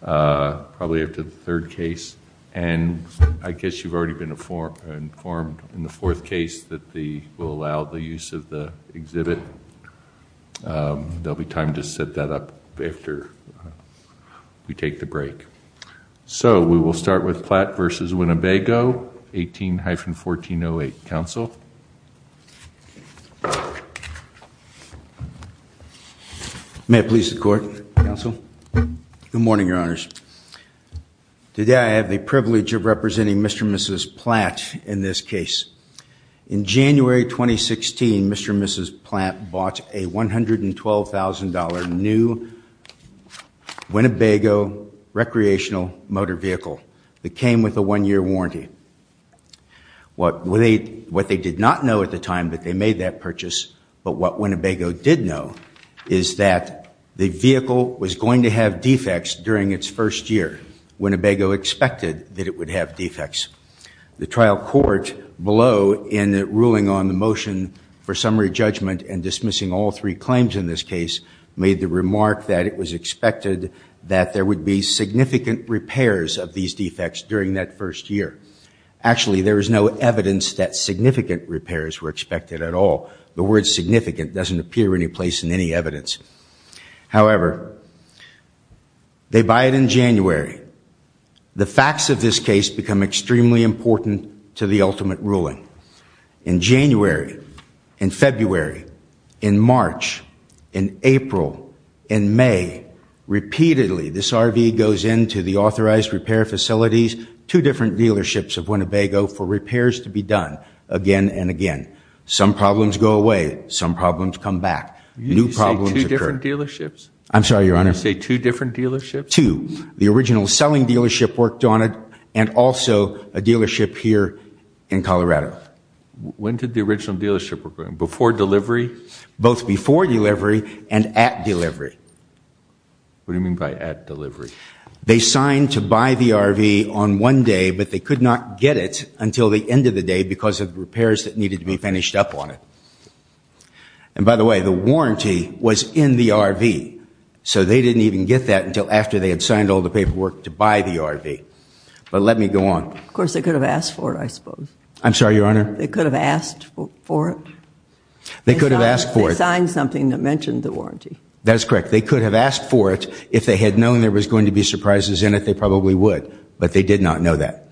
probably up to the third case and I guess you've already been a form and formed in the fourth case that the will allow the use of the exhibit there'll be time to set that up after we take the break so we will start with Platt vs. Winnebago 18-1408 counsel may it please the court counsel good morning your honors today I have the privilege of representing mr. mrs. Platt in this case in January 2016 mr. mrs. Platt bought a $112,000 new Winnebago recreational motor vehicle that came with a one-year warranty what were they what they did not know at the time that they made that purchase but what Winnebago did know is that the vehicle was going to have defects during its first year Winnebago expected that it would have defects the trial court below in the ruling on the motion for summary judgment and dismissing all three claims in this case made the remark that it was expected that there would be significant repairs of these defects during that first year actually there is no evidence that significant repairs were expected at all the word significant doesn't appear any place in any evidence however they buy it in January the facts of this case become extremely important to the ultimate ruling in January in February in March in April in May repeatedly this RV goes into the authorized repair facilities two different dealerships of Winnebago for repairs to be done again and again some problems go away some problems come back new problems different dealerships I'm sorry your honor say two different dealerships to the original selling dealership worked on it and also a dealership here in both before delivery and at delivery what do you mean by at delivery they signed to buy the RV on one day but they could not get it until the end of the day because of repairs that needed to be finished up on it and by the way the warranty was in the RV so they didn't even get that until after they had signed all the paperwork to buy the RV but let me go on of course they could have asked for it I suppose I'm sorry your honor they could have asked for it they could have asked for it signed something that mentioned the warranty that's correct they could have asked for it if they had known there was going to be surprises in it they probably would but they did not know that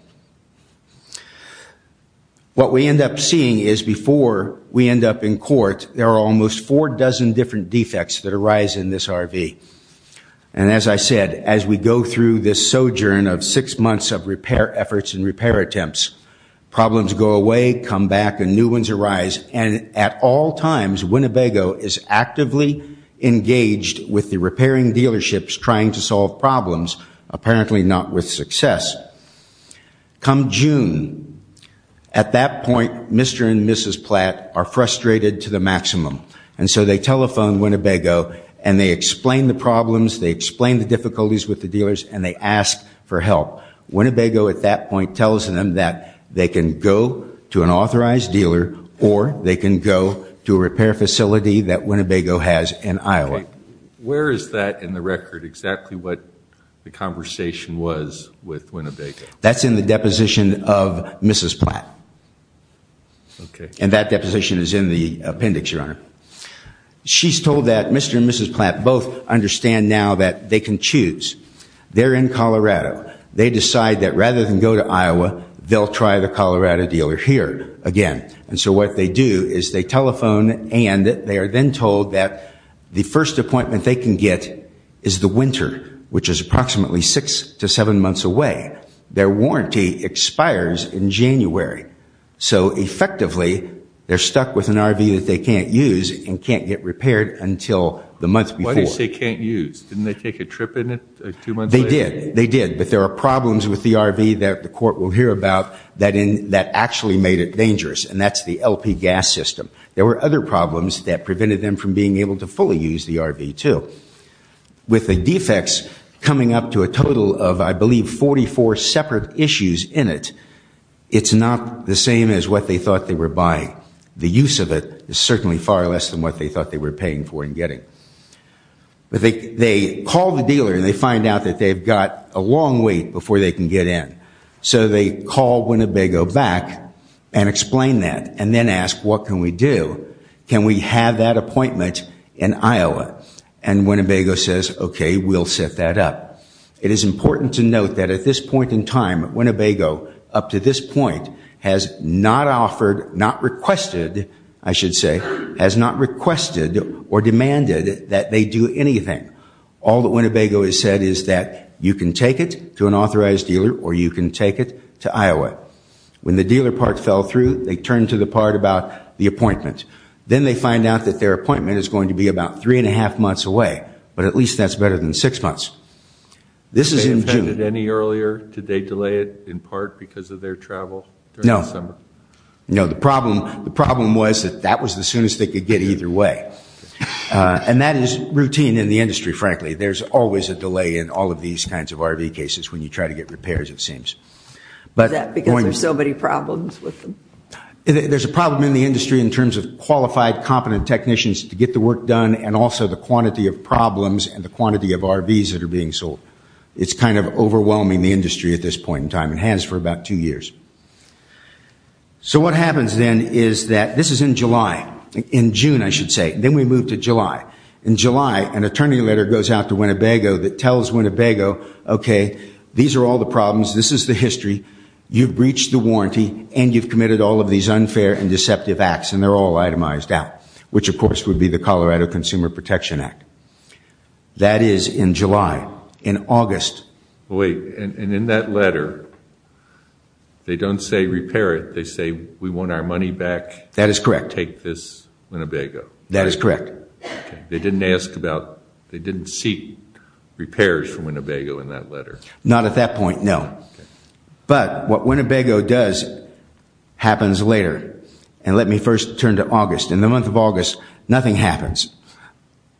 what we end up seeing is before we end up in court there are almost four dozen different defects that arise in this RV and as I said as we go through this sojourn of six months of repair efforts and repair attempts problems go away come back and new ones arise and at all times Winnebago is actively engaged with the repairing dealerships trying to solve problems apparently not with success come June at that point mr. and mrs. Platt are frustrated to the maximum and so they telephone Winnebago and they explain the problems they explain the difficulties with the dealers and they ask for help Winnebago at that point tells them that they can go to an authorized dealer or they can go to a repair facility that Winnebago has in Iowa where is that in the record exactly what the conversation was with Winnebago that's in the deposition of mrs. Platt okay and that deposition is in the appendix your honor she's told that mr. and mrs. Platt both understand now that they can choose they're in Colorado they decide that rather than go to Iowa they'll try the Colorado dealer here again and so what they do is they telephone and they are then told that the first appointment they can get is the winter which is approximately six to seven months away their warranty expires in January so effectively they're stuck with an RV that they can't use and can't get until the month before they can't use didn't they take a trip in it they did they did but there are problems with the RV that the court will hear about that in that actually made it dangerous and that's the LP gas system there were other problems that prevented them from being able to fully use the RV to with the defects coming up to a total of I believe 44 separate issues in it it's not the same as what they thought they were buying the use of it is certainly far less than what they thought they were paying for and getting but they they call the dealer and they find out that they've got a long wait before they can get in so they call Winnebago back and explain that and then ask what can we do can we have that appointment in Iowa and Winnebago says okay we'll set that up it is important to note that at this point in time Winnebago up to this point has not offered not requested I should say has not requested or demanded that they do anything all that Winnebago has said is that you can take it to an authorized dealer or you can take it to Iowa when the dealer part fell through they turn to the part about the appointment then they find out that their appointment is going to be about three and a half months away but at least that's better than six months this is intended any earlier today delay it in part because of their travel no no the problem the problem was that that was the soonest they could get either way and that is routine in the industry frankly there's always a delay in all of these kinds of RV cases when you try to get repairs it seems but that because there's so many problems with them there's a problem in the industry in terms of qualified competent technicians to get the work done and also the quantity of problems and the quantity of RVs that are being sold it's kind of overwhelming the industry at this point in time it has for about two years so what happens then is that this is in July in June I should say then we move to July in July an attorney letter goes out to Winnebago that tells Winnebago okay these are all the problems this is the history you've breached the warranty and you've committed all of these unfair and deceptive acts and they're all itemized out which of course would be the Colorado Consumer Protection Act that is in July in August wait and in that letter they don't say repair it they say we want our money back that is correct take this Winnebago that is correct they didn't ask about they didn't seek repairs from Winnebago in that letter not at that point no but what Winnebago does happens later and let me first turn to August in the month of August nothing happens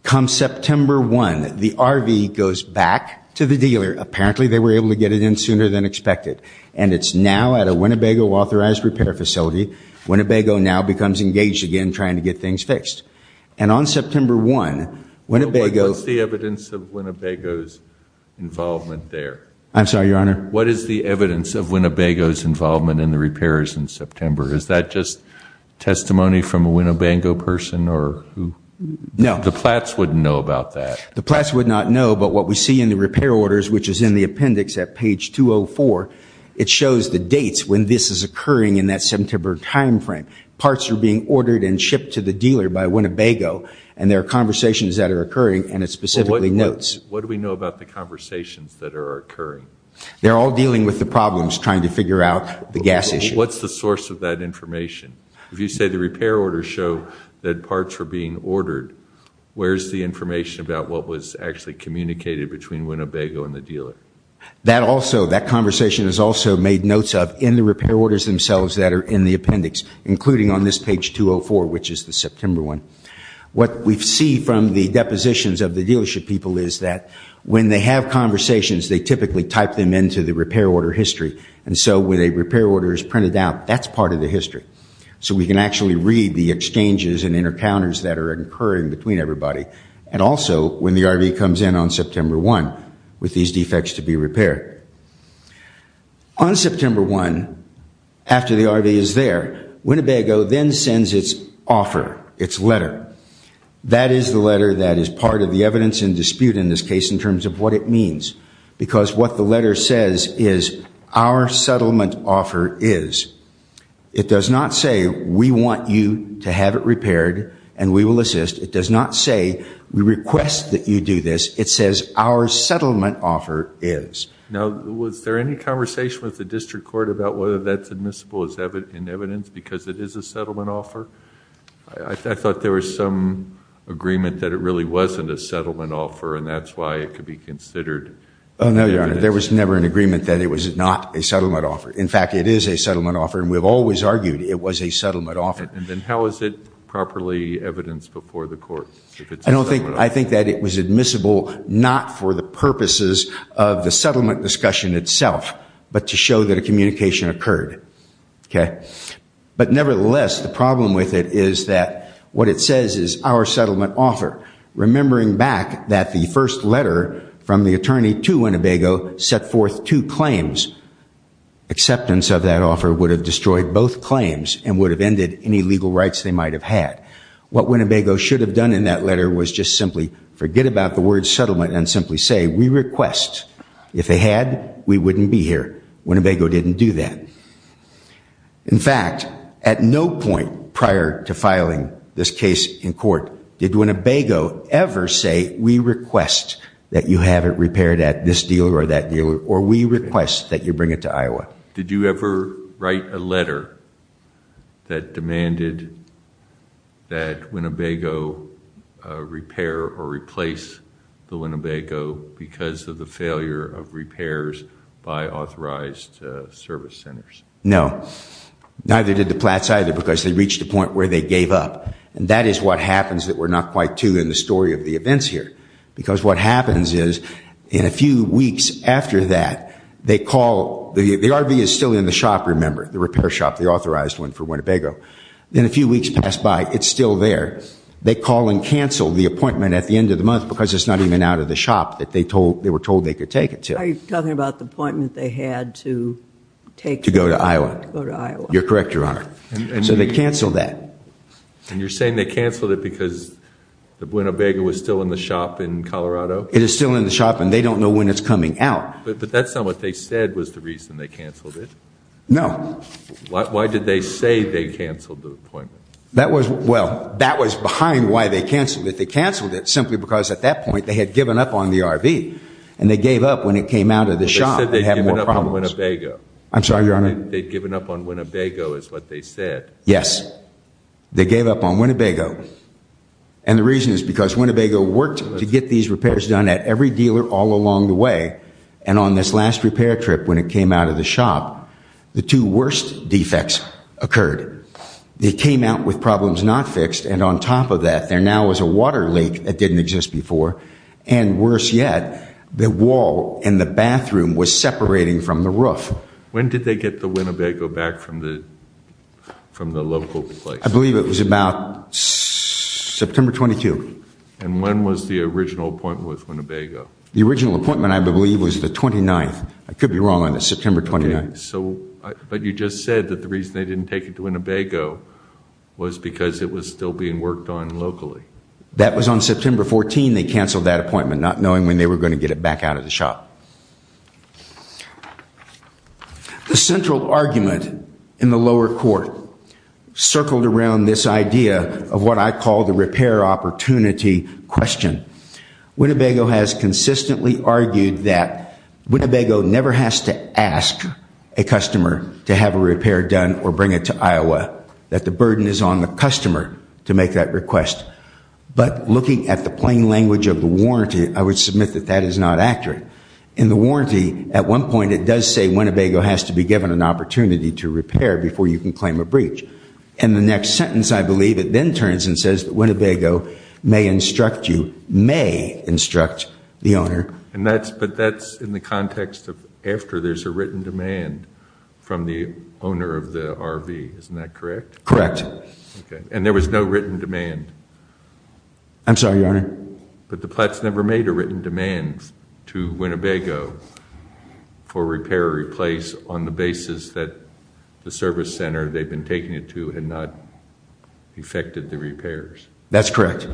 come September 1 the RV goes back to the dealer apparently they were able to get it in sooner than expected and it's now at a Winnebago authorized repair facility Winnebago now becomes engaged again trying to get things fixed and on September 1 Winnebago's the evidence of Winnebago's involvement there I'm sorry your honor what is the evidence of Winnebago's involvement in the repairs in September is that just testimony from a Winnebago person or who know the press would not know but what we see in the repair orders which is in the appendix at page 204 it shows the dates when this is occurring in that September time frame parts are being ordered and shipped to the dealer by Winnebago and there are conversations that are occurring and it's specifically notes what do we know about the conversations that are occurring they're all dealing with the problems trying to figure out the gas issue what's the source of that information if you say the repair order show that parts were being ordered where's the information about what was actually communicated between Winnebago and the dealer that also that conversation is also made notes of in the repair orders themselves that are in the appendix including on this page 204 which is the September 1 what we see from the depositions of the dealership people is that when they have conversations they typically type them into the repair order history and so when a repair order is printed out that's part of the history so we can actually read the exchanges and encounters that are occurring between everybody and also when the RV comes in on September 1 with these defects to be repaired on September 1 after the RV is there Winnebago then sends its offer its letter that is the letter that is part of the evidence in dispute in this case in terms of what it means because what the letter says is our settlement offer is it does not say we want you to have it repaired and we will assist it does not say we request that you do this it says our settlement offer is now was there any conversation with the District Court about whether that's admissible as evident in evidence because it is a settlement offer I thought there was some agreement that it really wasn't a settlement offer and that's why it could be considered oh no there was never an agreement that it was not a settlement offer in fact it is a settlement offer and we've always argued it was a settlement offer and then how is it properly evidence before the court I don't think I think that it was admissible not for the purposes of the settlement discussion itself but to show that a communication occurred okay but nevertheless the problem with it is that what it says is our settlement offer remembering back that the first letter from the attorney to Winnebago set forth two claims acceptance of that offer would have destroyed both claims and would have ended any legal rights they might have had what Winnebago should have done in that letter was just simply forget about the word settlement and simply say we request if they had we wouldn't be here Winnebago didn't do that in fact at no point prior to filing this case in court did Winnebago ever say we request that you have it repaired at this dealer or that dealer or we request that you bring it to Iowa did you ever write a letter that demanded that Winnebago repair or replace the Winnebago because of the failure of repairs by authorized service centers no neither did the plats either because they reached a point where they gave up and that is what happens that we're not quite to in the story of the events here because what happens is in a few weeks after that they call the RV is still in the shop remember the repair shop the authorized one for Winnebago then a few weeks passed by it's still there they call and cancel the appointment at the end of the month because it's not even out of the shop that they told they were told they could take it to are you talking about the appointment they had to take to go to Iowa you're correct your honor and so they cancel that and you're saying they canceled it because the Winnebago was still in the shop in Colorado it is still in the shop and they don't know when it's coming out but no what why did they say they canceled the appointment that was well that was behind why they canceled it they canceled it simply because at that point they had given up on the RV and they gave up when it came out of the shop they have more problems a go I'm sorry your honor they'd given up on Winnebago is what they said yes they gave up on Winnebago and the reason is because Winnebago worked to get these repairs done at every dealer all along the way and on this last repair trip when it came out of the shop the two worst defects occurred they came out with problems not fixed and on top of that there now is a water leak that didn't exist before and worse yet the wall in the bathroom was separating from the roof when did they get the Winnebago back from the from the local I believe it was about September 22 and when was the original appointment with Winnebago the original appointment I believe was the 29th I could be wrong on the September 29 so but you just said that the reason they didn't take it to Winnebago was because it was still being worked on locally that was on September 14 they canceled that appointment not knowing when they were going to get it back out of the shop the central argument in the lower court circled around this idea of what I call the Winnebago has consistently argued that Winnebago never has to ask a customer to have a repair done or bring it to Iowa that the burden is on the customer to make that request but looking at the plain language of the warranty I would submit that that is not accurate in the warranty at one point it does say Winnebago has to be given an opportunity to repair before you can claim a breach and the next sentence I believe it then turns and says that Winnebago may instruct you may instruct the owner and that's but that's in the context of after there's a written demand from the owner of the RV isn't that correct correct and there was no written demand I'm sorry your honor but the Platts never made a written demand to Winnebago for repair replace on the basis that the service center they've been taking it to had not affected the repairs that's correct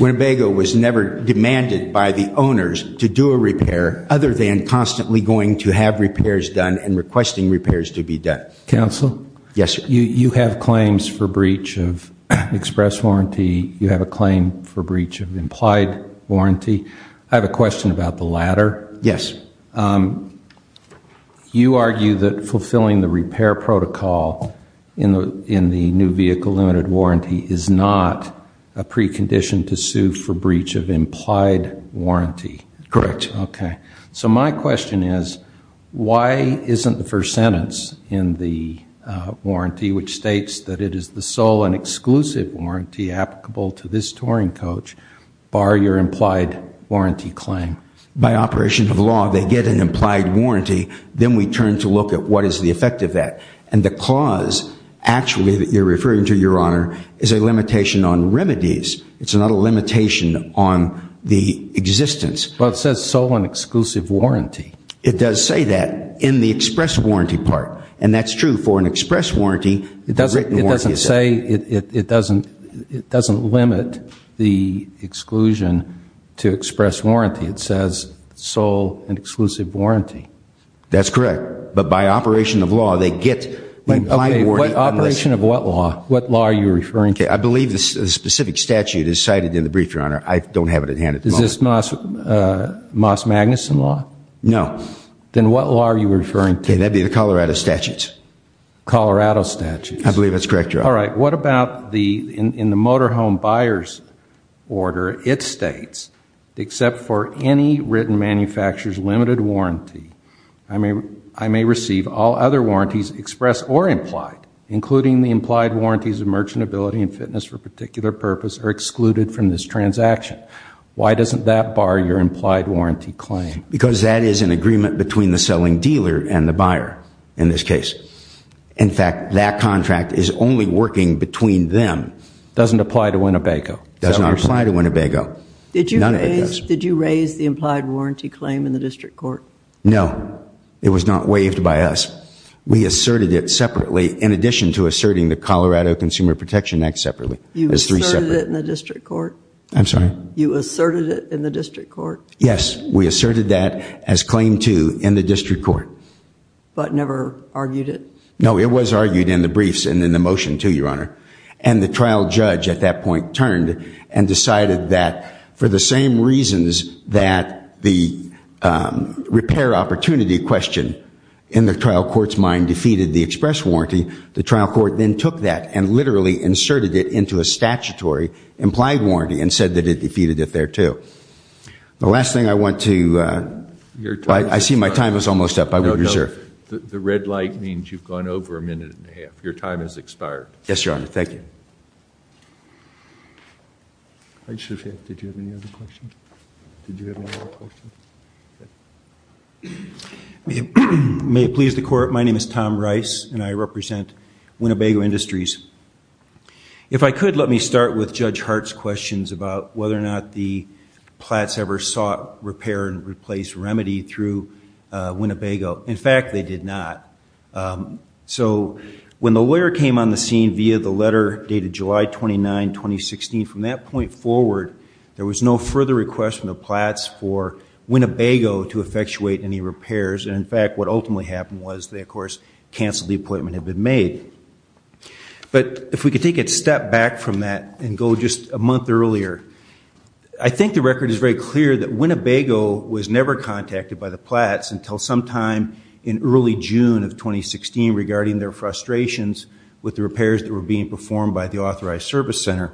Winnebago was never demanded by the owners to do a repair other than constantly going to have repairs done and requesting repairs to be done counsel yes you you have claims for breach of express warranty you have a claim for breach of implied warranty I have a question about the latter yes you argue that fulfilling the repair protocol in the in the new vehicle limited warranty is not a precondition to sue for breach of implied warranty correct okay so my question is why isn't the first sentence in the warranty which states that it is the sole and exclusive warranty applicable to this touring coach bar your implied warranty claim by operation of law they get an implied warranty then we turn to look at what is the effect of that and the clause actually that you're referring to your honor is a limitation on remedies it's not a limitation on the existence well it says so an exclusive warranty it does say that in the express warranty part and that's true for an express warranty it doesn't it doesn't say it doesn't it doesn't limit the exclusion to express warranty it says sole and exclusive warranty that's correct but by operation of law they get my operation of what law what law are you referring to I believe this specific statute is cited in the brief your honor I don't have it at hand at this mass mass Magnuson law no then what law are you referring to that be the Colorado statutes Colorado statute I believe that's correct you're all right what about the in the motorhome buyers order it states except for any written manufacturer's limited warranty I mean I may receive all other warranties expressed or implied including the implied warranties of merchant ability and fitness for a particular purpose are excluded from this transaction why doesn't that bar your implied warranty claim because that is an agreement between the selling dealer and the buyer in this case in fact that contract is only working between them doesn't apply to Winnebago does not apply to Winnebago did you raise did you raise the implied warranty claim in the district court no it was not waived by us we asserted it separately in addition to asserting the Colorado Consumer Protection Act separately you mister in the district court I'm sorry you asserted it in the district court yes we asserted that as claimed to in the district court but never argued it no it was argued in the briefs and in the motion to your honor and the trial judge at that point turned and decided that for the same reasons that the repair opportunity question in the trial courts mind defeated the express warranty the trial court then took that and literally inserted it into a statutory implied warranty and said that it defeated it there too the last thing I want to your I see my time is almost up I would reserve the red light means you've gone over a minute and a yes your honor thank you I just did you have any other questions did you have any more questions may it please the court my name is Tom Rice and I represent Winnebago Industries if I could let me start with judge Hart's questions about whether or not the plats ever sought repair and replace remedy through Winnebago in fact they did not so when the lawyer came on the scene via the letter dated July 29 2016 from that point forward there was no further request from the plats for Winnebago to effectuate any repairs and in fact what ultimately happened was they of course canceled the appointment had been made but if we could take it step back from that and go just a month earlier I think the record is very clear that Winnebago was never contacted by the plats until sometime in early June of 2016 regarding their frustrations with the repairs that were being performed by the authorized service center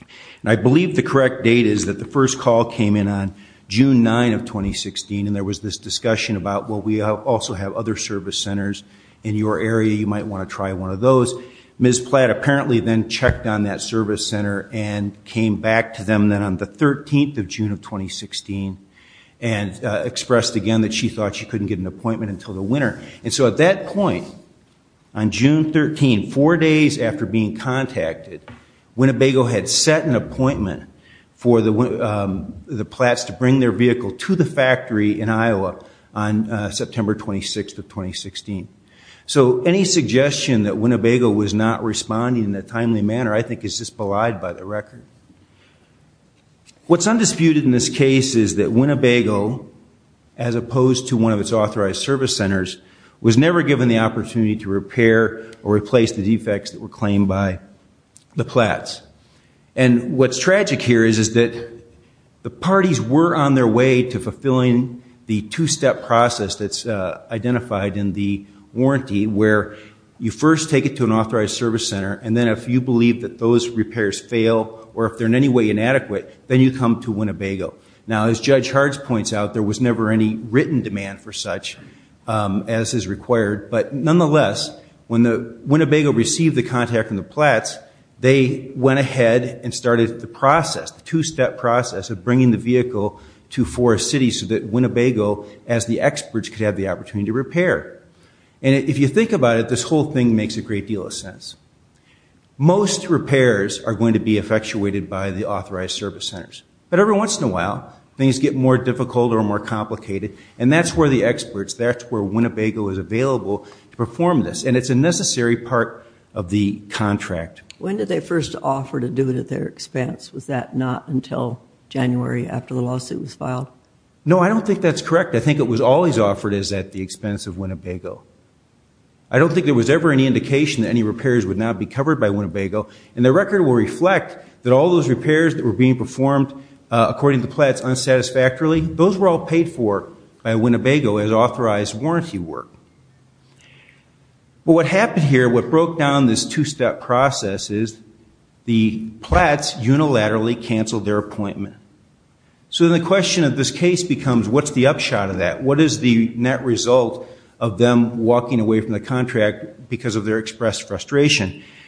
and I believe the correct date is that the first call came in on June 9 of 2016 and there was this discussion about what we also have other service centers in your area you might want to try one of those Ms. Platt apparently then checked on that service center and came back to them then on the 13th of June of 2016 and expressed again that she thought she couldn't get an appointment until the winter and so at that point on June 13 four days after being contacted Winnebago had set an appointment for the the plats to bring their vehicle to the factory in Iowa on September 26th of 2016 so any suggestion that Winnebago was not responding in a way that collided by the record. What's undisputed in this case is that Winnebago as opposed to one of its authorized service centers was never given the opportunity to repair or replace the defects that were claimed by the plats and what's tragic here is is that the parties were on their way to fulfilling the two-step process that's identified in the warranty where you first take it to an authorized service center and then if you believe that those repairs fail or if they're in any way inadequate then you come to Winnebago. Now as Judge Hartz points out there was never any written demand for such as is required but nonetheless when the Winnebago received the contact from the plats they went ahead and started the process the two-step process of bringing the vehicle to Forest City so that Winnebago as the experts could have the opportunity to repair and if you think about it this whole thing makes a Most repairs are going to be effectuated by the authorized service centers but every once in a while things get more difficult or more complicated and that's where the experts that's where Winnebago is available to perform this and it's a necessary part of the contract. When did they first offer to do it at their expense was that not until January after the lawsuit was filed? No I don't think that's correct I think it was always offered is at the expense of Winnebago. I would not be covered by Winnebago and the record will reflect that all those repairs that were being performed according to plats unsatisfactorily those were all paid for by Winnebago as authorized warranty work. But what happened here what broke down this two-step process is the plats unilaterally canceled their appointment. So the question of this case becomes what's the upshot of that what is the net result of them walking away from the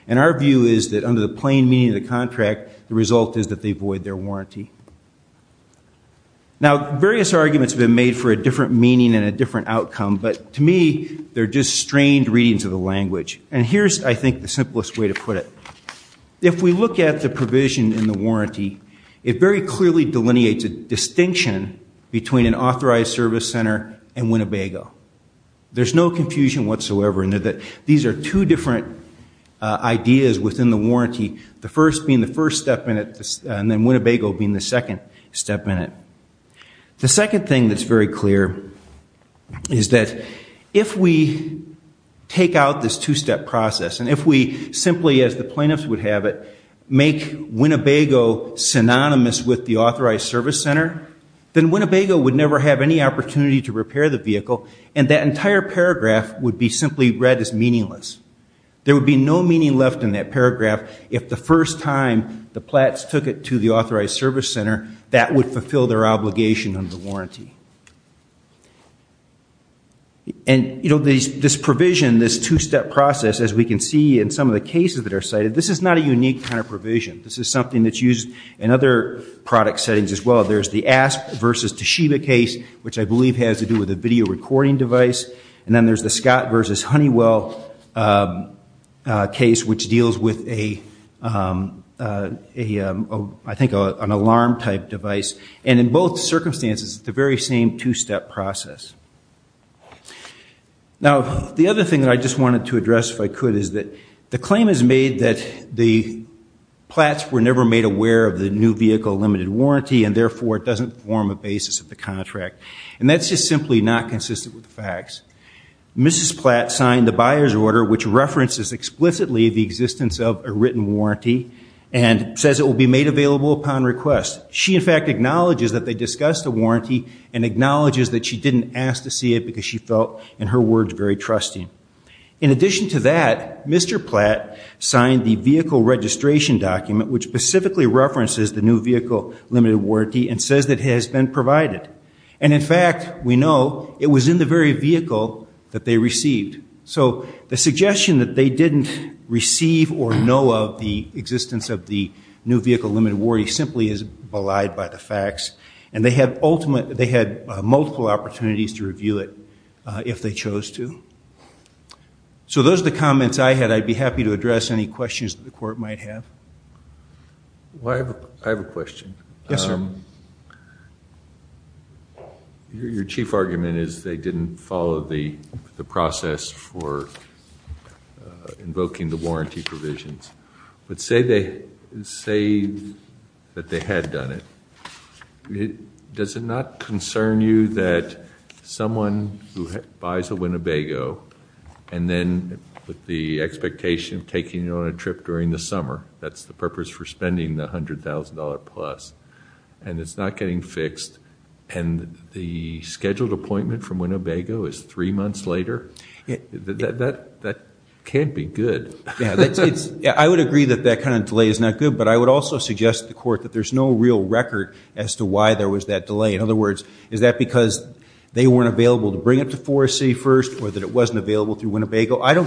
and our view is that under the plain meaning of the contract the result is that they void their warranty. Now various arguments have been made for a different meaning and a different outcome but to me they're just strained readings of the language and here's I think the simplest way to put it. If we look at the provision in the warranty it very clearly delineates a distinction between an authorized service center and Winnebago. There's no confusion whatsoever and that these are two different ideas within the warranty the first being the first step in it and then Winnebago being the second step in it. The second thing that's very clear is that if we take out this two-step process and if we simply as the plaintiffs would have it make Winnebago synonymous with the authorized service center then Winnebago would never have any opportunity to repair the vehicle and that entire paragraph would be simply read as meaningless. There would be no meaning left in that paragraph if the first time the plats took it to the authorized service center that would fulfill their obligation under warranty. And you know these this provision this two-step process as we can see in some of the cases that are cited this is not a unique kind of provision this is something that's used in other product settings as well there's the Asp versus Toshiba case which I believe has to do with a video recording device and then there's the Scott versus Honeywell case which deals with a I think an alarm type device and in both circumstances the very same two-step process. Now the other thing that I just wanted to address if I could is that the claim is made that the plats were never made aware of the new vehicle limited warranty and therefore it doesn't form a basis of the contract and that's just simply not consistent with the facts. Mrs. Platt signed the buyer's order which references explicitly the existence of a written warranty and says it will be made available upon request. She in fact acknowledges that they discussed the warranty and acknowledges that she didn't ask to see it because she felt in her words very trusting. In addition to that Mr. Platt signed the vehicle registration document which specifically references the new vehicle limited warranty and says that has been provided and in fact we know it was in the very vehicle that they received so the suggestion that they didn't receive or know of the existence of the new vehicle limited warranty simply is belied by the facts and they have ultimate they had multiple opportunities to review it if they chose to. So those are the comments I had I'd be happy to address any questions that the court might have. I have a question. Yes sir. Your chief argument is they didn't follow the the process for invoking the warranty provisions but say they say that they had done it. Does it not concern you that someone who buys a summer that's the purpose for spending the $100,000 plus and it's not getting fixed and the scheduled appointment from Winnebago is three months later. That can't be good. Yeah I would agree that that kind of delay is not good but I would also suggest the court that there's no real record as to why there was that delay. In other words is that because they weren't available to bring it to Forest City first or that it wasn't available through Winnebago. I do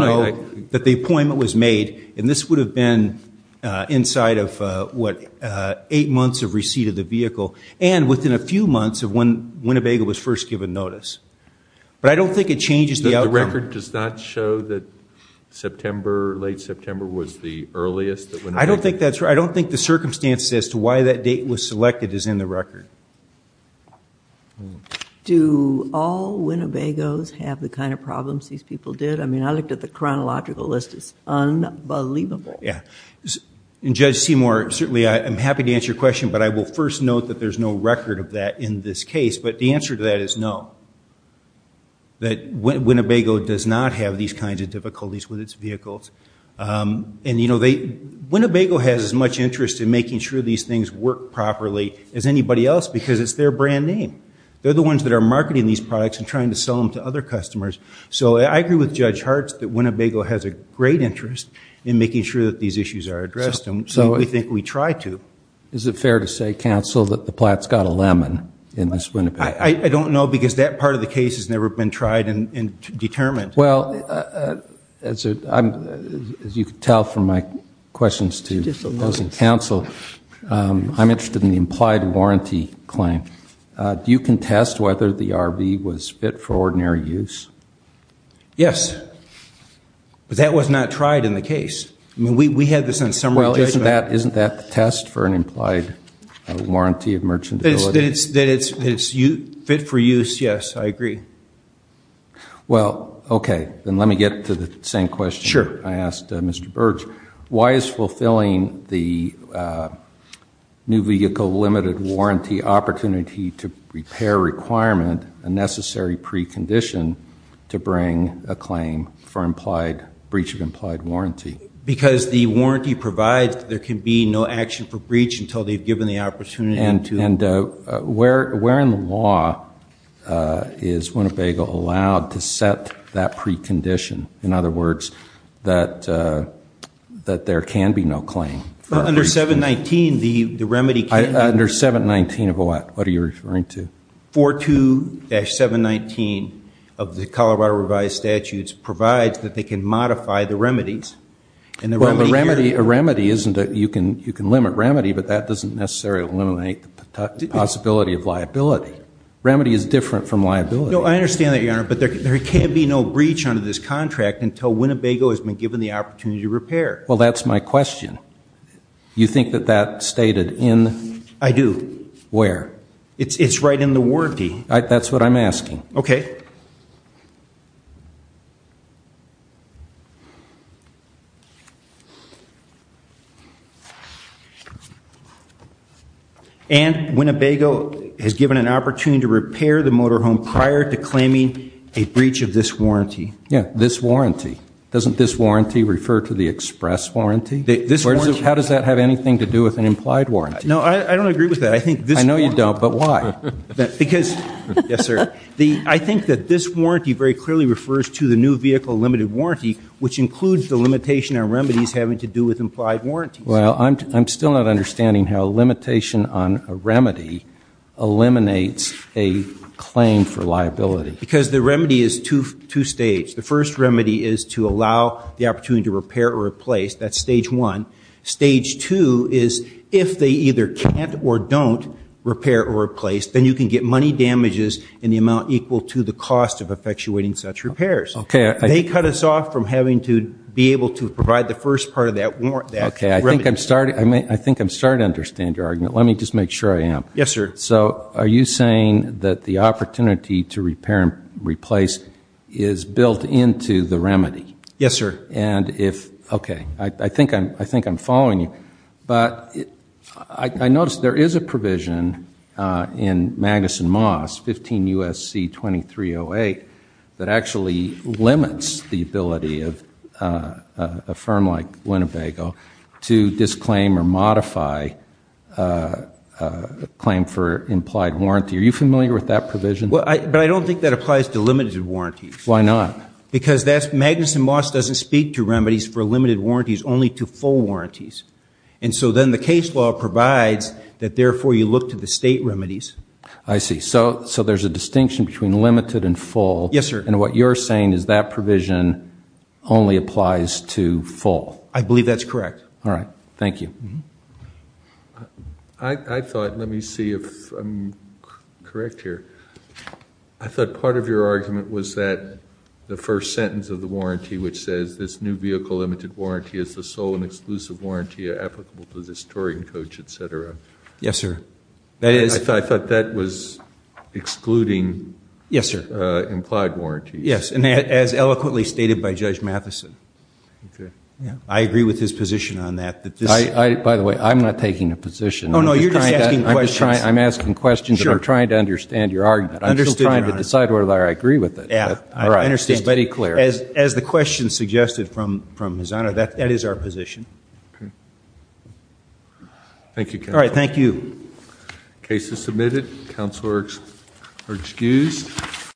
know that the appointment was made and this would have been inside of what eight months of receipt of the vehicle and within a few months of when Winnebago was first given notice. But I don't think it changes the record. Does that show that September late September was the earliest? I don't think that's right. I don't think the circumstances as to why that date was selected is in the I looked at the chronological list is unbelievable. Yeah and Judge Seymour certainly I'm happy to answer your question but I will first note that there's no record of that in this case but the answer to that is no. That Winnebago does not have these kinds of difficulties with its vehicles and you know they Winnebago has as much interest in making sure these things work properly as anybody else because it's their brand name. They're the ones that are marketing these products and trying to sell them to other customers. So I with Judge Hart's that Winnebago has a great interest in making sure that these issues are addressed and so we think we try to. Is it fair to say counsel that the Platt's got a lemon in this Winnebago? I don't know because that part of the case has never been tried and determined. Well as you can tell from my questions to the opposing counsel I'm interested in the implied warranty claim. Do you contest whether the RV was fit for ordinary use? Yes but that was not tried in the case. I mean we had this on summary. Isn't that the test for an implied warranty of merchantability? That it's fit for use yes I agree. Well okay then let me get to the same question. Sure. I asked fulfilling the new vehicle limited warranty opportunity to repair requirement a necessary precondition to bring a claim for implied breach of implied warranty? Because the warranty provides there can be no action for breach until they've given the opportunity. And where in the law is Winnebago allowed to set that precondition? In other words that that there can be no claim. Under 719 the remedy. Under 719 of what? What are you referring to? 42-719 of the Colorado revised statutes provides that they can modify the remedies. A remedy isn't that you can you can limit remedy but that doesn't necessarily eliminate the possibility of liability. Remedy is different from liability. No I understand that your honor but there can be no breach under this contract until Winnebago has been given the opportunity to repair. Well that's my question. You think that that stated in? I do. Where? It's it's right in the warranty. That's what I'm asking. Okay. And Winnebago has given an opportunity to repair the motorhome prior to claiming a breach of this warranty. Yeah this warranty. Doesn't this warranty refer to the express warranty? How does that have anything to do with an implied warranty? No I don't agree with that. I think this. I know you don't but why? Because. Yes sir. The I think that this warranty very clearly refers to the new vehicle limited warranty which includes the limitation on remedies having to do with implied warranties. Well I'm still not understanding how a limitation on a remedy eliminates a claim for liability. Because the remedy is two two stage. The repair or replace. That's stage one. Stage two is if they either can't or don't repair or replace then you can get money damages in the amount equal to the cost of effectuating such repairs. Okay. They cut us off from having to be able to provide the first part of that war. Okay I think I'm starting. I mean I think I'm starting to understand your argument. Let me just make sure I am. Yes sir. So are you saying that the opportunity to repair and replace is built into the Okay. I think I'm I think I'm following you. But I noticed there is a provision in Magnuson Moss 15 USC 2308 that actually limits the ability of a firm like Winnebago to disclaim or modify a claim for implied warranty. Are you familiar with that provision? Well I but I don't think that applies to limited warranties. Why not? Because that's Magnuson Moss doesn't speak to remedies for limited warranties only to full warranties. And so then the case law provides that therefore you look to the state remedies. I see. So so there's a distinction between limited and full. Yes sir. And what you're saying is that provision only applies to full. I believe that's correct. All right. Thank you. I thought let me see if I'm correct here. I thought part of your argument was that the first sentence of the warranty which says this new vehicle limited warranty is the sole and exclusive warranty applicable to this touring coach etc. Yes sir. That is I thought that was excluding. Yes sir. Implied warranties. Yes and as eloquently stated by Judge Matheson. Okay. Yeah I agree with his position on that. By the way I'm not taking a position. Oh no you're just asking questions. I'm asking questions. I'm trying to understand your understanding. As the question suggested from from his honor that that is our position. Thank you. All right. Thank you. Case is submitted. Counselor are excused.